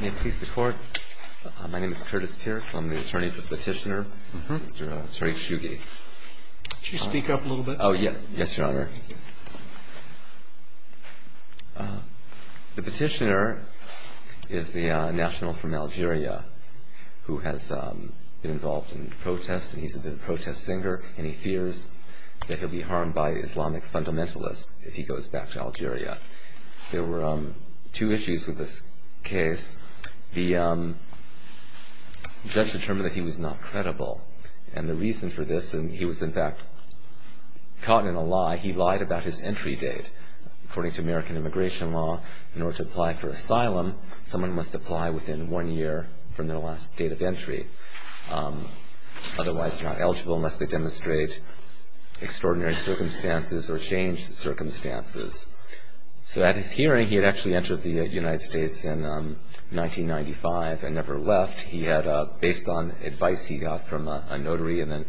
May it please the Court, my name is Curtis Pierce, I'm the attorney for the petitioner, Mr. Tariq Chougui. Could you speak up a little bit? Yes, Your Honor. The petitioner is the national from Algeria who has been involved in protests, and he's a protest singer, and he fears that he'll be harmed by Islamic fundamentalists if he goes back to Algeria. There were two issues with this case. The judge determined that he was not credible, and the reason for this, and he was in fact caught in a lie, he lied about his entry date. According to American immigration law, in order to apply for asylum, someone must apply within one year from their last date of entry. Otherwise, they're not eligible unless they demonstrate extraordinary circumstances or changed circumstances. So at his hearing, he had actually entered the United States in 1995 and never left. He had, based on advice he got from a notary and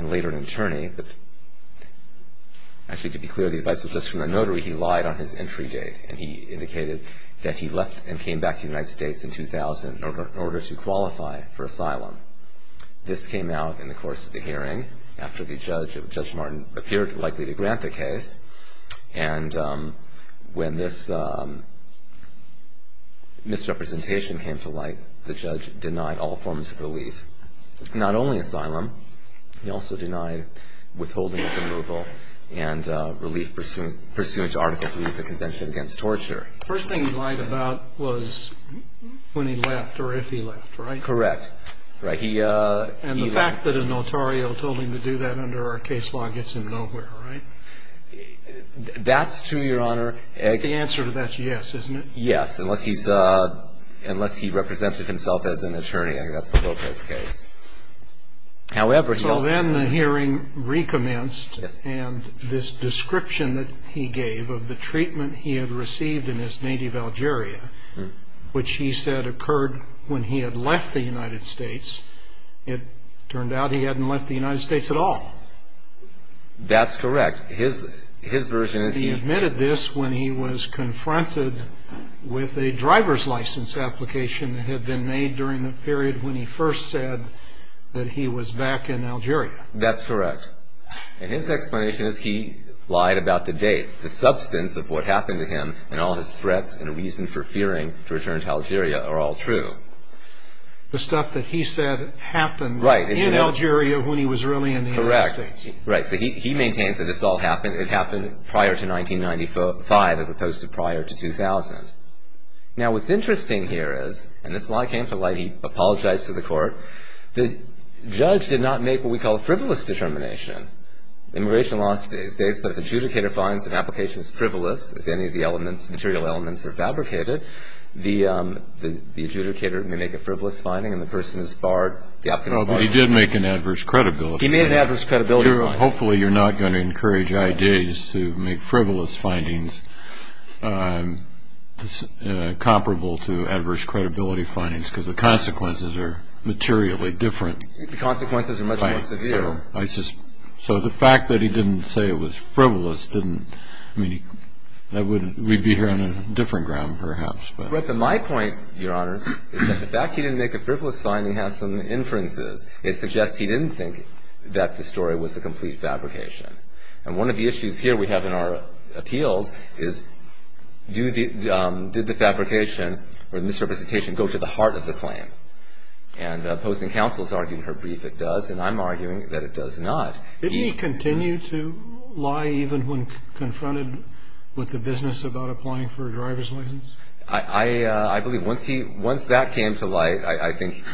later an attorney, but actually to be clear, the advice was just from a notary, he lied on his entry date, and he indicated that he left and came back to the United States in 2000 in order to qualify for asylum. This came out in the course of the hearing after Judge Martin appeared likely to grant the case, and when this misrepresentation came to light, the judge denied all forms of relief, not only asylum. He also denied withholding of removal and relief pursuant to Article 3 of the Convention Against Torture. The first thing he lied about was when he left or if he left, right? Correct. Right. And the fact that a notario told him to do that under our case law gets him nowhere, right? That's true, Your Honor. The answer to that is yes, isn't it? Yes, unless he represented himself as an attorney. I think that's the whole case. So then the hearing recommenced, and this description that he gave of the treatment he had received in his native Algeria, which he said occurred when he had left the United States, it turned out he hadn't left the United States at all. That's correct. He admitted this when he was confronted with a driver's license application that had been made during the period when he first said that he was back in Algeria. That's correct. And his explanation is he lied about the dates. The substance of what happened to him and all his threats and reason for fearing to return to Algeria are all true. The stuff that he said happened in Algeria when he was really in the United States. Right. So he maintains that this all happened. It happened prior to 1995 as opposed to prior to 2000. Now, what's interesting here is, and this lie came to light, he apologized to the court. The judge did not make what we call a frivolous determination. Immigration law states that if the adjudicator finds that an application is frivolous, if any of the elements, material elements, are fabricated, the adjudicator may make a frivolous finding and the person is barred, the application is barred. Well, but he did make an adverse credibility claim. He made an adverse credibility claim. Hopefully you're not going to encourage I.D.s to make frivolous findings comparable to adverse credibility findings because the consequences are materially different. The consequences are much more severe. So the fact that he didn't say it was frivolous didn't, I mean, we'd be here on a different ground perhaps. But my point, Your Honors, is that the fact he didn't make a frivolous finding has some inferences. It suggests he didn't think that the story was a complete fabrication. And one of the issues here we have in our appeals is did the fabrication or the misrepresentation go to the heart of the claim? And opposing counsel has argued in her brief it does, and I'm arguing that it does not. Did he continue to lie even when confronted with the business about applying for a driver's license? I believe once that came to light, I think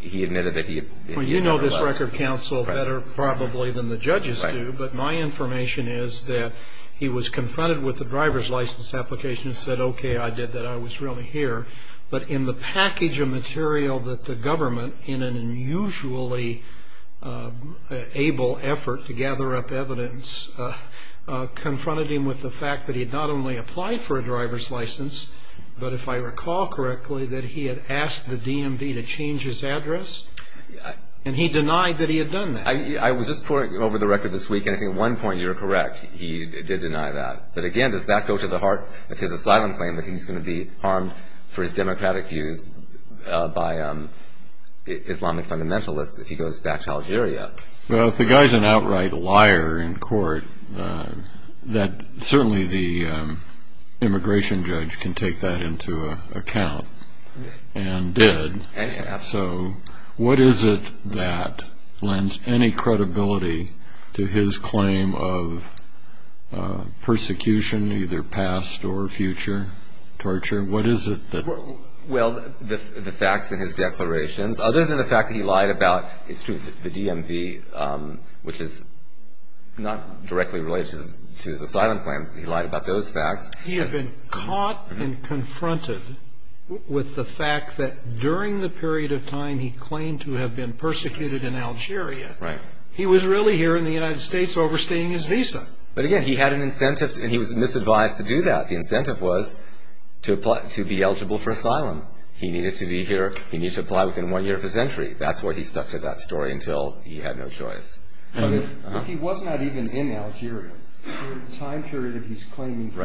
he admitted that he never lied. Well, you know this record counsel better probably than the judges do, but my information is that he was confronted with the driver's license application and said, okay, I did that. I was really here. But in the package of material that the government, in an unusually able effort to gather up evidence, confronted him with the fact that he had not only applied for a driver's license, but if I recall correctly, that he had asked the DMV to change his address. And he denied that he had done that. I was just pouring over the record this week, and I think at one point you were correct. He did deny that. But again, does that go to the heart of his asylum claim, that he's going to be harmed for his democratic views by Islamic fundamentalists if he goes back to Algeria? Well, if the guy's an outright liar in court, certainly the immigration judge can take that into account and did. So what is it that lends any credibility to his claim of persecution, either past or future torture? What is it that? Well, the facts in his declarations. Other than the fact that he lied about the DMV, which is not directly related to his asylum claim, he lied about those facts. He had been caught and confronted with the fact that during the period of time he claimed to have been persecuted in Algeria, he was really here in the United States overstaying his visa. But again, he had an incentive, and he was misadvised to do that. The incentive was to be eligible for asylum. He needed to be here. He needed to apply within one year of his entry. That's why he stuck to that story until he had no choice. But if he was not even in Algeria during the time period that he's claiming he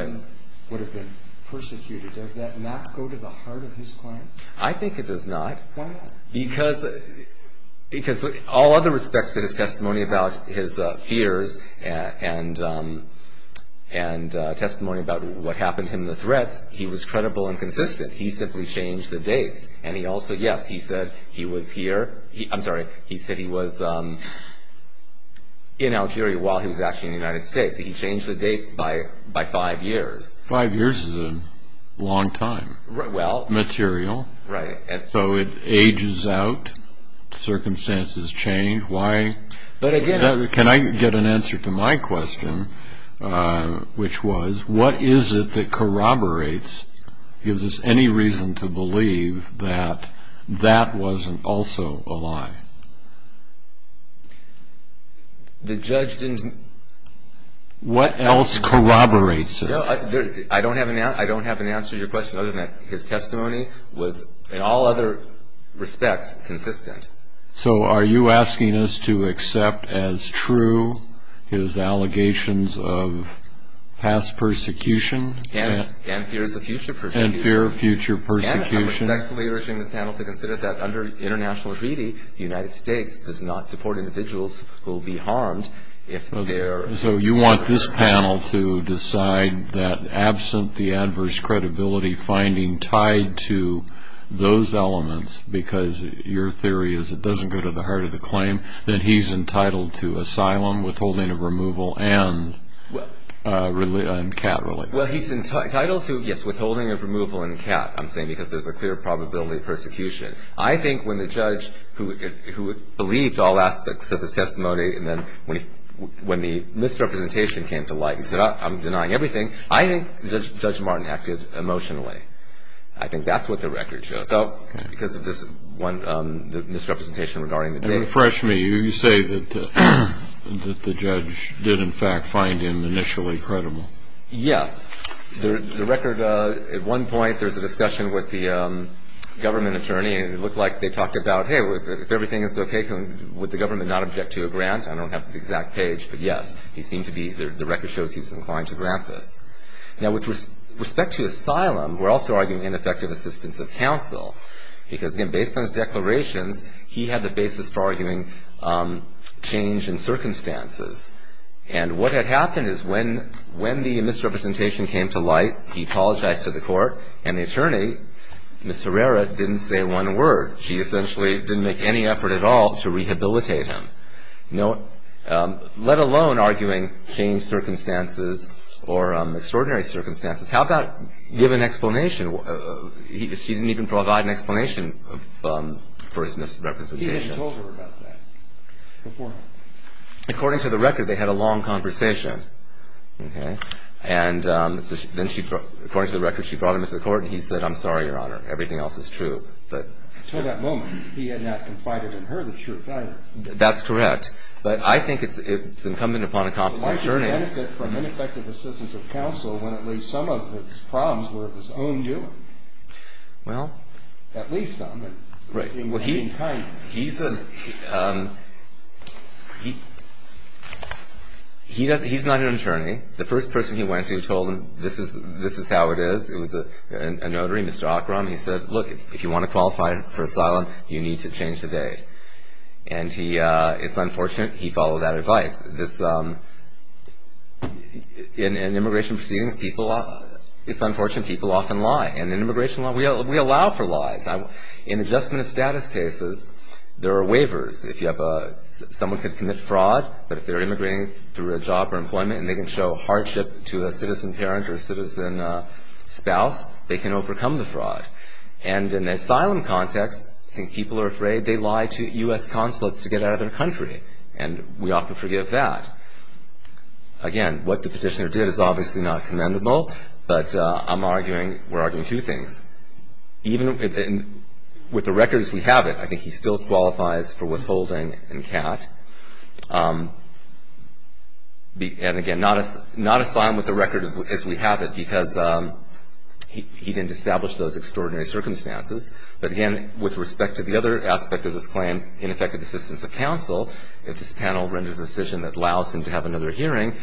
would have been persecuted, does that not go to the heart of his claim? I think it does not. Why not? Because with all other respects to his testimony about his fears and testimony about what happened to him, the threats, he was credible and consistent. He simply changed the dates. Yes, he said he was here. I'm sorry. He said he was in Algeria while he was actually in the United States. He changed the dates by five years. Five years is a long time material. Right. So it ages out. Circumstances change. Can I get an answer to my question, which was, what is it that corroborates, gives us any reason to believe that that wasn't also a lie? The judge didn't. What else corroborates it? I don't have an answer to your question other than his testimony was, in all other respects, consistent. So are you asking us to accept as true his allegations of past persecution? And fears of future persecution. And fear of future persecution. And I'm respectfully urging this panel to consider that, under international treaty, the United States does not deport individuals who will be harmed if they are in our country. So you want this panel to decide that, absent the adverse credibility finding tied to those elements, because your theory is it doesn't go to the heart of the claim, that he's entitled to asylum, withholding of removal, and cat relief. Well, he's entitled to, yes, withholding of removal and cat, I'm saying, because there's a clear probability of persecution. I think when the judge, who believed all aspects of his testimony, and then when the misrepresentation came to light and said, I'm denying everything, I think Judge Martin acted emotionally. I think that's what the record shows. So because of this misrepresentation regarding the date. Refresh me. You say that the judge did, in fact, find him initially credible. Yes. The record, at one point, there's a discussion with the government attorney, and it looked like they talked about, hey, if everything is okay, would the government not object to a grant? I don't have the exact page, but, yes, he seemed to be. The record shows he was inclined to grant this. Now, with respect to asylum, we're also arguing ineffective assistance of counsel, because, again, based on his declarations, he had the basis for arguing change in circumstances. And what had happened is when the misrepresentation came to light, he apologized to the court, and the attorney, Ms. Herrera, didn't say one word. She essentially didn't make any effort at all to rehabilitate him, let alone arguing change circumstances or extraordinary circumstances. How about give an explanation? She didn't even provide an explanation for his misrepresentation. He hadn't told her about that before. According to the record, they had a long conversation. Okay? And then, according to the record, she brought him to the court, and he said, I'm sorry, Your Honor, everything else is true. Until that moment, he had not confided in her the truth, either. That's correct. But I think it's incumbent upon a competent attorney. Why did he benefit from ineffective assistance of counsel when at least some of his problems were of his own doing? Well. At least some. Right. He was being kind. He's not an attorney. The first person he went to told him, this is how it is. It was a notary, Mr. Ocram. He said, look, if you want to qualify for asylum, you need to change the date. And it's unfortunate he followed that advice. In immigration proceedings, it's unfortunate people often lie. And in immigration, we allow for lies. In adjustment of status cases, there are waivers. Someone could commit fraud, but if they're immigrating through a job or employment and they can show hardship to a citizen parent or citizen spouse, they can overcome the fraud. And in the asylum context, I think people are afraid they lie to U.S. consulates to get out of their country. And we often forgive that. Again, what the petitioner did is obviously not commendable. But I'm arguing, we're arguing two things. Even with the record as we have it, I think he still qualifies for withholding and CAT. And, again, not asylum with the record as we have it, because he didn't establish those extraordinary circumstances. But, again, with respect to the other aspect of this claim, ineffective assistance of counsel, if this panel renders a decision that allows him to have another hearing,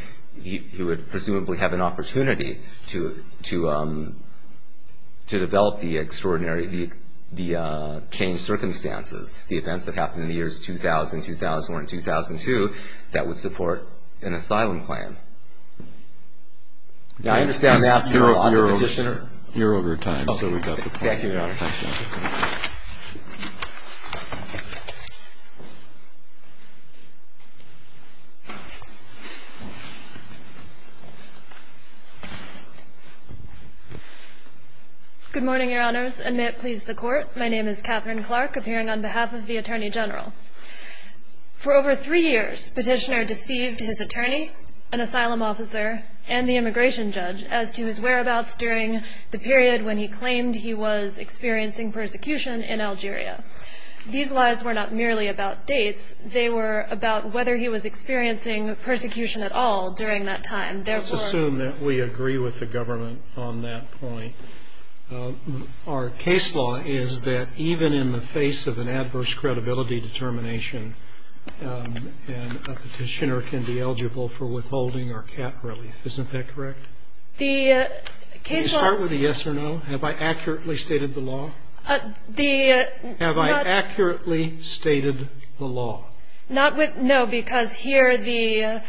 he would presumably have an opportunity to develop the extraordinary, the changed circumstances, the events that happened in the years 2000, 2001, and 2002, that would support an asylum claim. Now, I understand that on the petitioner. You're over time, so we've got the time. Thank you, Your Honors. Thank you. Good morning, Your Honors, and may it please the Court. My name is Catherine Clark, appearing on behalf of the Attorney General. For over three years, petitioner deceived his attorney, an asylum officer, and the immigration judge, as to his whereabouts during the period when he claimed he was experiencing persecution in Algeria. These lies were not merely about dates. They were about whether he was experiencing persecution at all during that time. Let's assume that we agree with the government on that point. Our case law is that even in the face of an adverse credibility determination, a petitioner can be eligible for withholding or cat relief. Isn't that correct? The case law Can you start with a yes or no? Have I accurately stated the law? The Have I accurately stated the law? No, because here the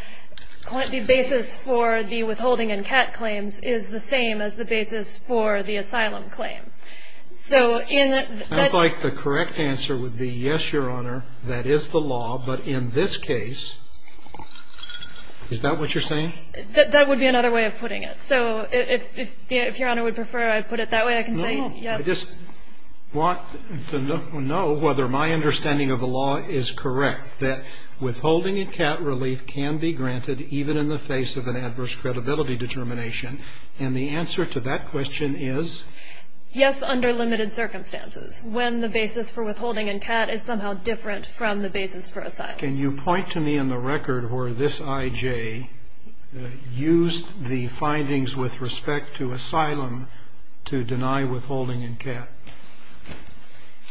basis for the withholding and cat claims is the same as the basis for the asylum claim. Sounds like the correct answer would be yes, Your Honor, that is the law. But in this case, is that what you're saying? That would be another way of putting it. So if Your Honor would prefer I put it that way, I can say yes. I just want to know whether my understanding of the law is correct, that withholding and cat relief can be granted even in the face of an adverse credibility determination. And the answer to that question is? Yes, under limited circumstances, when the basis for withholding and cat is somehow different from the basis for asylum. Can you point to me on the record where this IJ used the findings with respect to asylum to deny withholding and cat?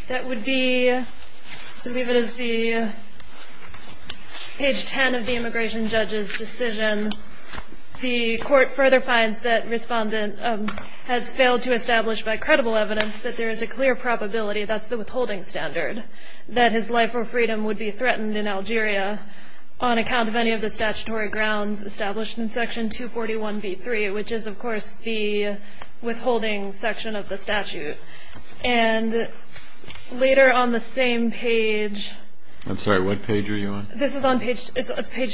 That would be, I believe it is the page 10 of the immigration judge's decision. The court further finds that respondent has failed to establish by credible evidence that there is a clear probability, that's the withholding standard, that his life or freedom would be threatened in Algeria, on account of any of the statutory grounds established in section 241B3, which is, of course, the withholding section of the statute. And later on the same page. I'm sorry, what page are you on? This is on page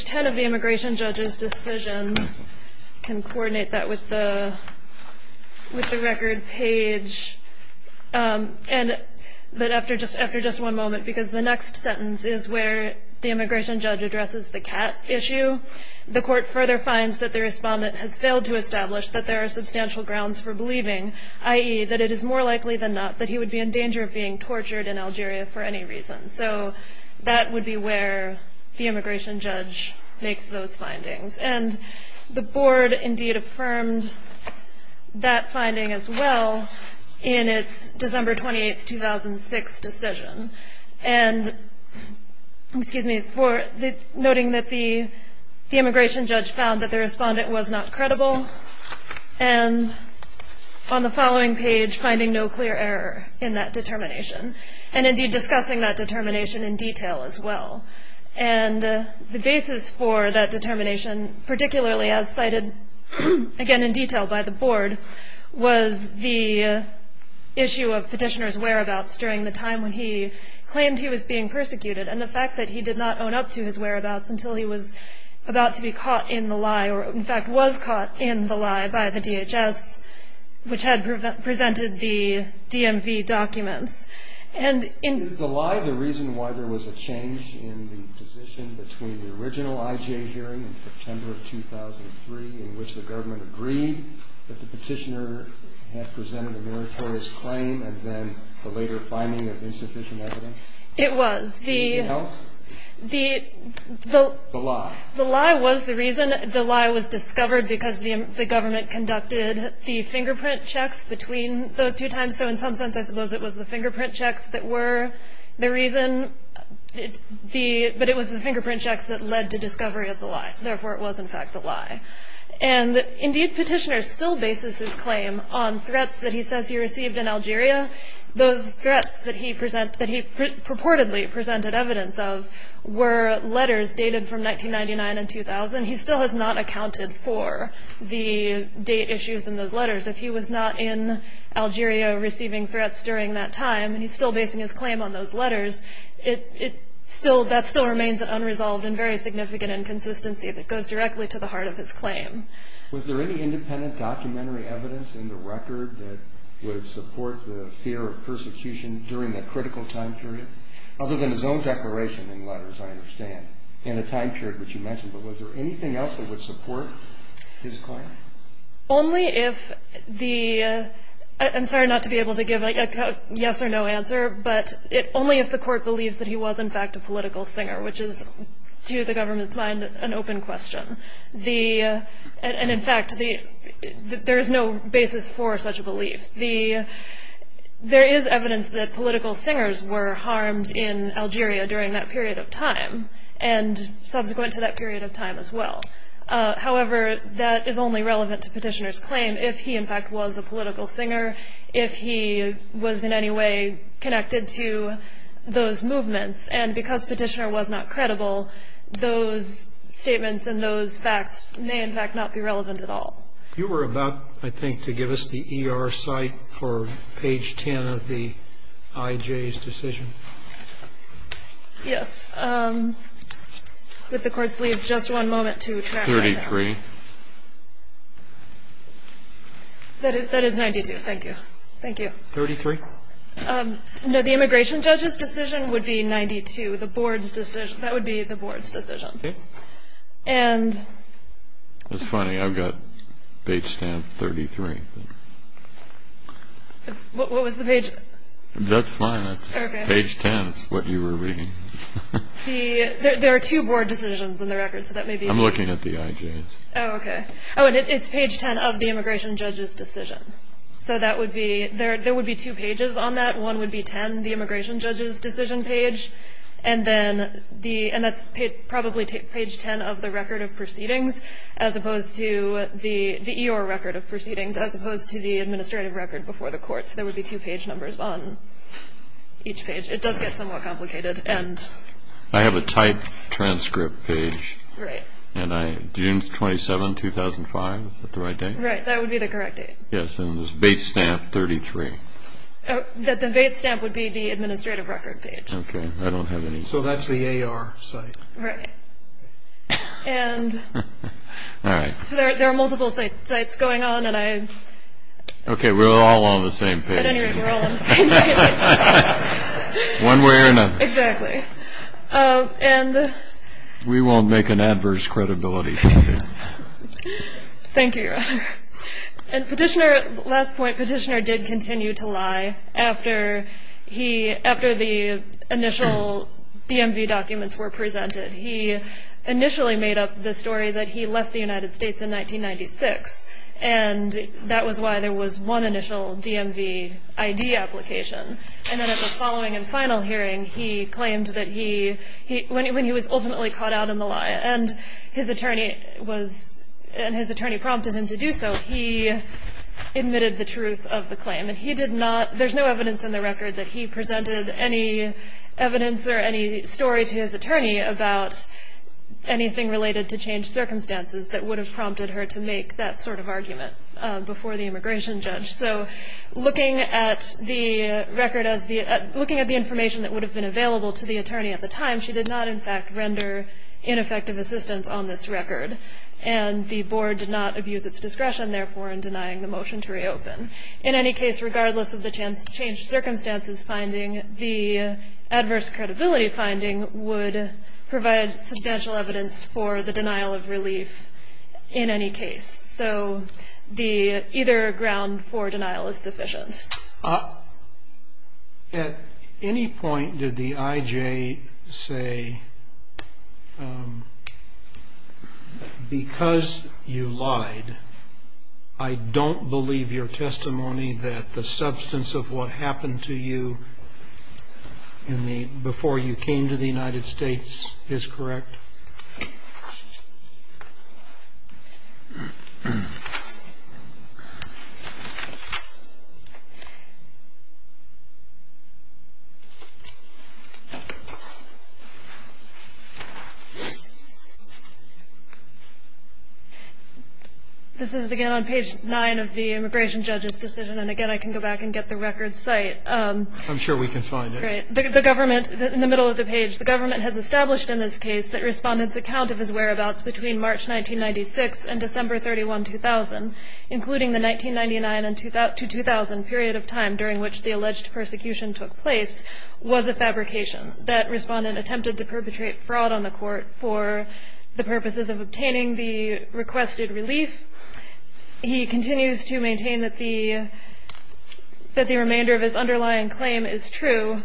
10 of the immigration judge's decision. Can coordinate that with the record page. But after just one moment, because the next sentence is where the immigration judge addresses the cat issue. The court further finds that the respondent has failed to establish that there are substantial grounds for believing, i.e., that it is more likely than not that he would be in danger of being tortured in Algeria for any reason. So that would be where the immigration judge makes those findings. And the board, indeed, affirmed that finding as well in its December 28, 2006, decision. And, excuse me, noting that the immigration judge found that the respondent was not credible. And on the following page, finding no clear error in that determination. And, indeed, discussing that determination in detail as well. And the basis for that determination, particularly as cited, again, in detail by the board, was the issue of Petitioner's whereabouts during the time when he claimed he was being persecuted. And the fact that he did not own up to his whereabouts until he was about to be caught in the lie, or, in fact, was caught in the lie by the DHS, which had presented the DMV documents. And in Is the lie the reason why there was a change in the position between the original IJ hearing in September of 2003, in which the government agreed that the Petitioner had presented a meritorious claim and then the later finding of insufficient evidence? It was. Anything else? The The The lie. The lie was the reason. The lie was discovered because the government conducted the fingerprint checks between those two times. So, in some sense, I suppose it was the fingerprint checks that were the reason. But it was the fingerprint checks that led to discovery of the lie. Therefore, it was, in fact, the lie. And, indeed, Petitioner still bases his claim on threats that he says he received in Algeria. Those threats that he purportedly presented evidence of were letters dated from 1999 and 2000. He still has not accounted for the date issues in those letters. If he was not in Algeria receiving threats during that time, and he's still basing his claim on those letters, that still remains an unresolved and very significant inconsistency that goes directly to the heart of his claim. Was there any independent documentary evidence in the record that would support the fear of persecution during that critical time period? Other than his own declaration in letters, I understand, in the time period which you mentioned. But was there anything else that would support his claim? Only if the – I'm sorry not to be able to give a yes or no answer, but only if the court believes that he was, in fact, a political singer, which is, to the government's mind, an open question. And, in fact, there is no basis for such a belief. There is evidence that political singers were harmed in Algeria during that period of time and subsequent to that period of time as well. However, that is only relevant to Petitioner's claim if he, in fact, was a political singer, if he was in any way connected to those movements. And because Petitioner was not credible, those statements and those facts may, in fact, not be relevant at all. You were about, I think, to give us the ER site for page 10 of the IJ's decision. Yes. Would the courts leave just one moment to track that down? Thirty-three. That is 92. Thank you. Thank you. Thirty-three. No, the immigration judge's decision would be 92. The board's decision – that would be the board's decision. Okay. And – That's funny. I've got page 10, 33. What was the page – That's fine. Okay. Page 10 is what you were reading. There are two board decisions in the record, so that may be – I'm looking at the IJ's. Oh, okay. Oh, and it's page 10 of the immigration judge's decision. So that would be – there would be two pages on that. One would be 10, the immigration judge's decision page, and then the – and that's probably page 10 of the record of proceedings, as opposed to the EOR record of proceedings, as opposed to the administrative record before the courts. So there would be two page numbers on each page. It does get somewhat complicated, and – I have a typed transcript page. Right. And I – June 27, 2005, is that the right date? Right. That would be the correct date. Yes, and there's a base stamp, 33. The base stamp would be the administrative record page. Okay. I don't have any – So that's the AR site. Right. And – All right. So there are multiple sites going on, and I – Okay, we're all on the same page. At any rate, we're all on the same page. One way or another. Exactly. And – We won't make an adverse credibility claim. Thank you, Your Honor. And Petitioner – last point, Petitioner did continue to lie after he – after the initial DMV documents were presented. He initially made up the story that he left the United States in 1996, and that was why there was one initial DMV ID application. And then at the following and final hearing, he claimed that he – when he was ultimately caught out in the lie, and his attorney was – and his attorney prompted him to do so, he admitted the truth of the claim. He did not – there's no evidence in the record that he presented any evidence or any story to his attorney about anything related to changed circumstances that would have prompted her to make that sort of argument before the immigration judge. So looking at the record as the – looking at the information that would have been available to the attorney at the time, she did not, in fact, render ineffective assistance on this record. And the board did not abuse its discretion, therefore, in denying the motion to reopen. In any case, regardless of the changed circumstances finding, the adverse credibility finding would provide substantial evidence for the denial of relief in any case. So the – either ground for denial is sufficient. At any point did the I.J. say, because you lied, I don't believe your testimony that the substance of what happened to you before you came to the United States is correct? This is, again, on page 9 of the immigration judge's decision. And, again, I can go back and get the record's site. I'm sure we can find it. Right. The government, in the middle of the page, the government has established in this case that Respondent's account of his whereabouts between March 1996 and December 31, 2000, including the 1999 to 2000 period of time during which the alleged persecution took place, was a fabrication. That Respondent attempted to perpetrate fraud on the Court for the purposes of obtaining the requested relief. He continues to maintain that the – that the remainder of his underlying claim is true.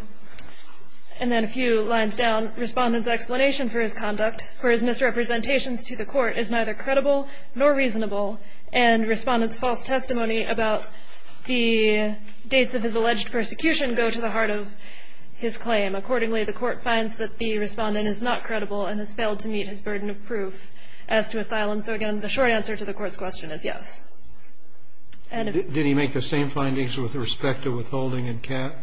And then a few lines down, Respondent's explanation for his conduct, for his misrepresentations to the Court, is neither credible nor reasonable, and Respondent's false testimony about the dates of his alleged persecution go to the heart of his claim. Accordingly, the Court finds that the Respondent is not credible and has failed to meet his burden of proof as to asylum. And so, again, the short answer to the Court's question is yes. And if – Did he make the same findings with respect to withholding and cap?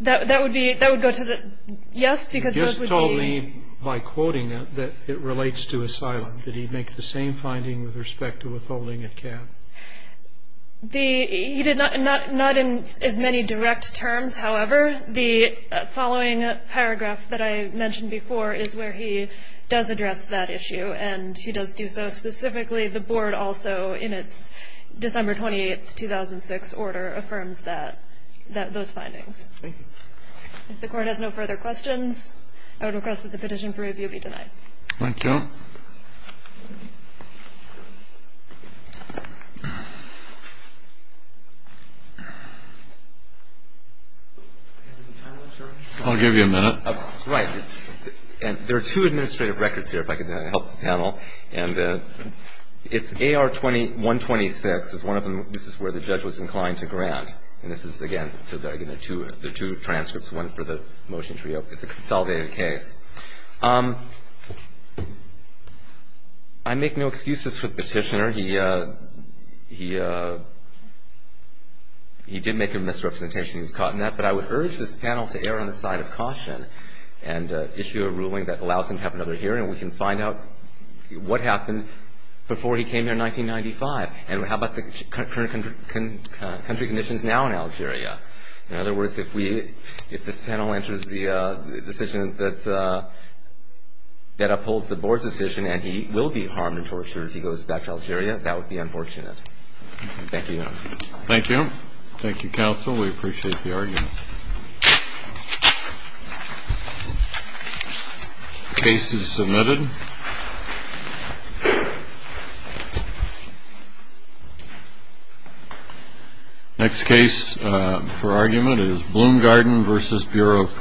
That would be – that would go to the – yes, because those would be – He just told me, by quoting it, that it relates to asylum. Did he make the same finding with respect to withholding and cap? The – he did not – not in as many direct terms, however. The following paragraph that I mentioned before is where he does address that issue. And he does do so specifically. The Board also, in its December 28, 2006 order, affirms that – those findings. Thank you. If the Court has no further questions, I would request that the petition for review be denied. Thank you. I'll give you a minute. Right. And there are two administrative records here, if I could help the panel. And it's AR-126 is one of them. This is where the judge was inclined to grant. And this is, again – so, again, there are two transcripts. One for the motion to reopen. It's a consolidated case. I make no excuses for the petitioner. He – he did make a misrepresentation. He was caught in that. But I would urge this panel to err on the side of caution and issue a ruling that allows him to have another hearing, and we can find out what happened before he came here in 1995. And how about the current country conditions now in Algeria? In other words, if we – if this panel enters the decision that's – that upholds the Board's decision and he will be harmed and tortured if he goes back to Algeria, that would be unfortunate. Thank you. Thank you. Thank you, counsel. We appreciate the argument. Case is submitted. Next case for argument is Bloom Garden v. Bureau of Prisons.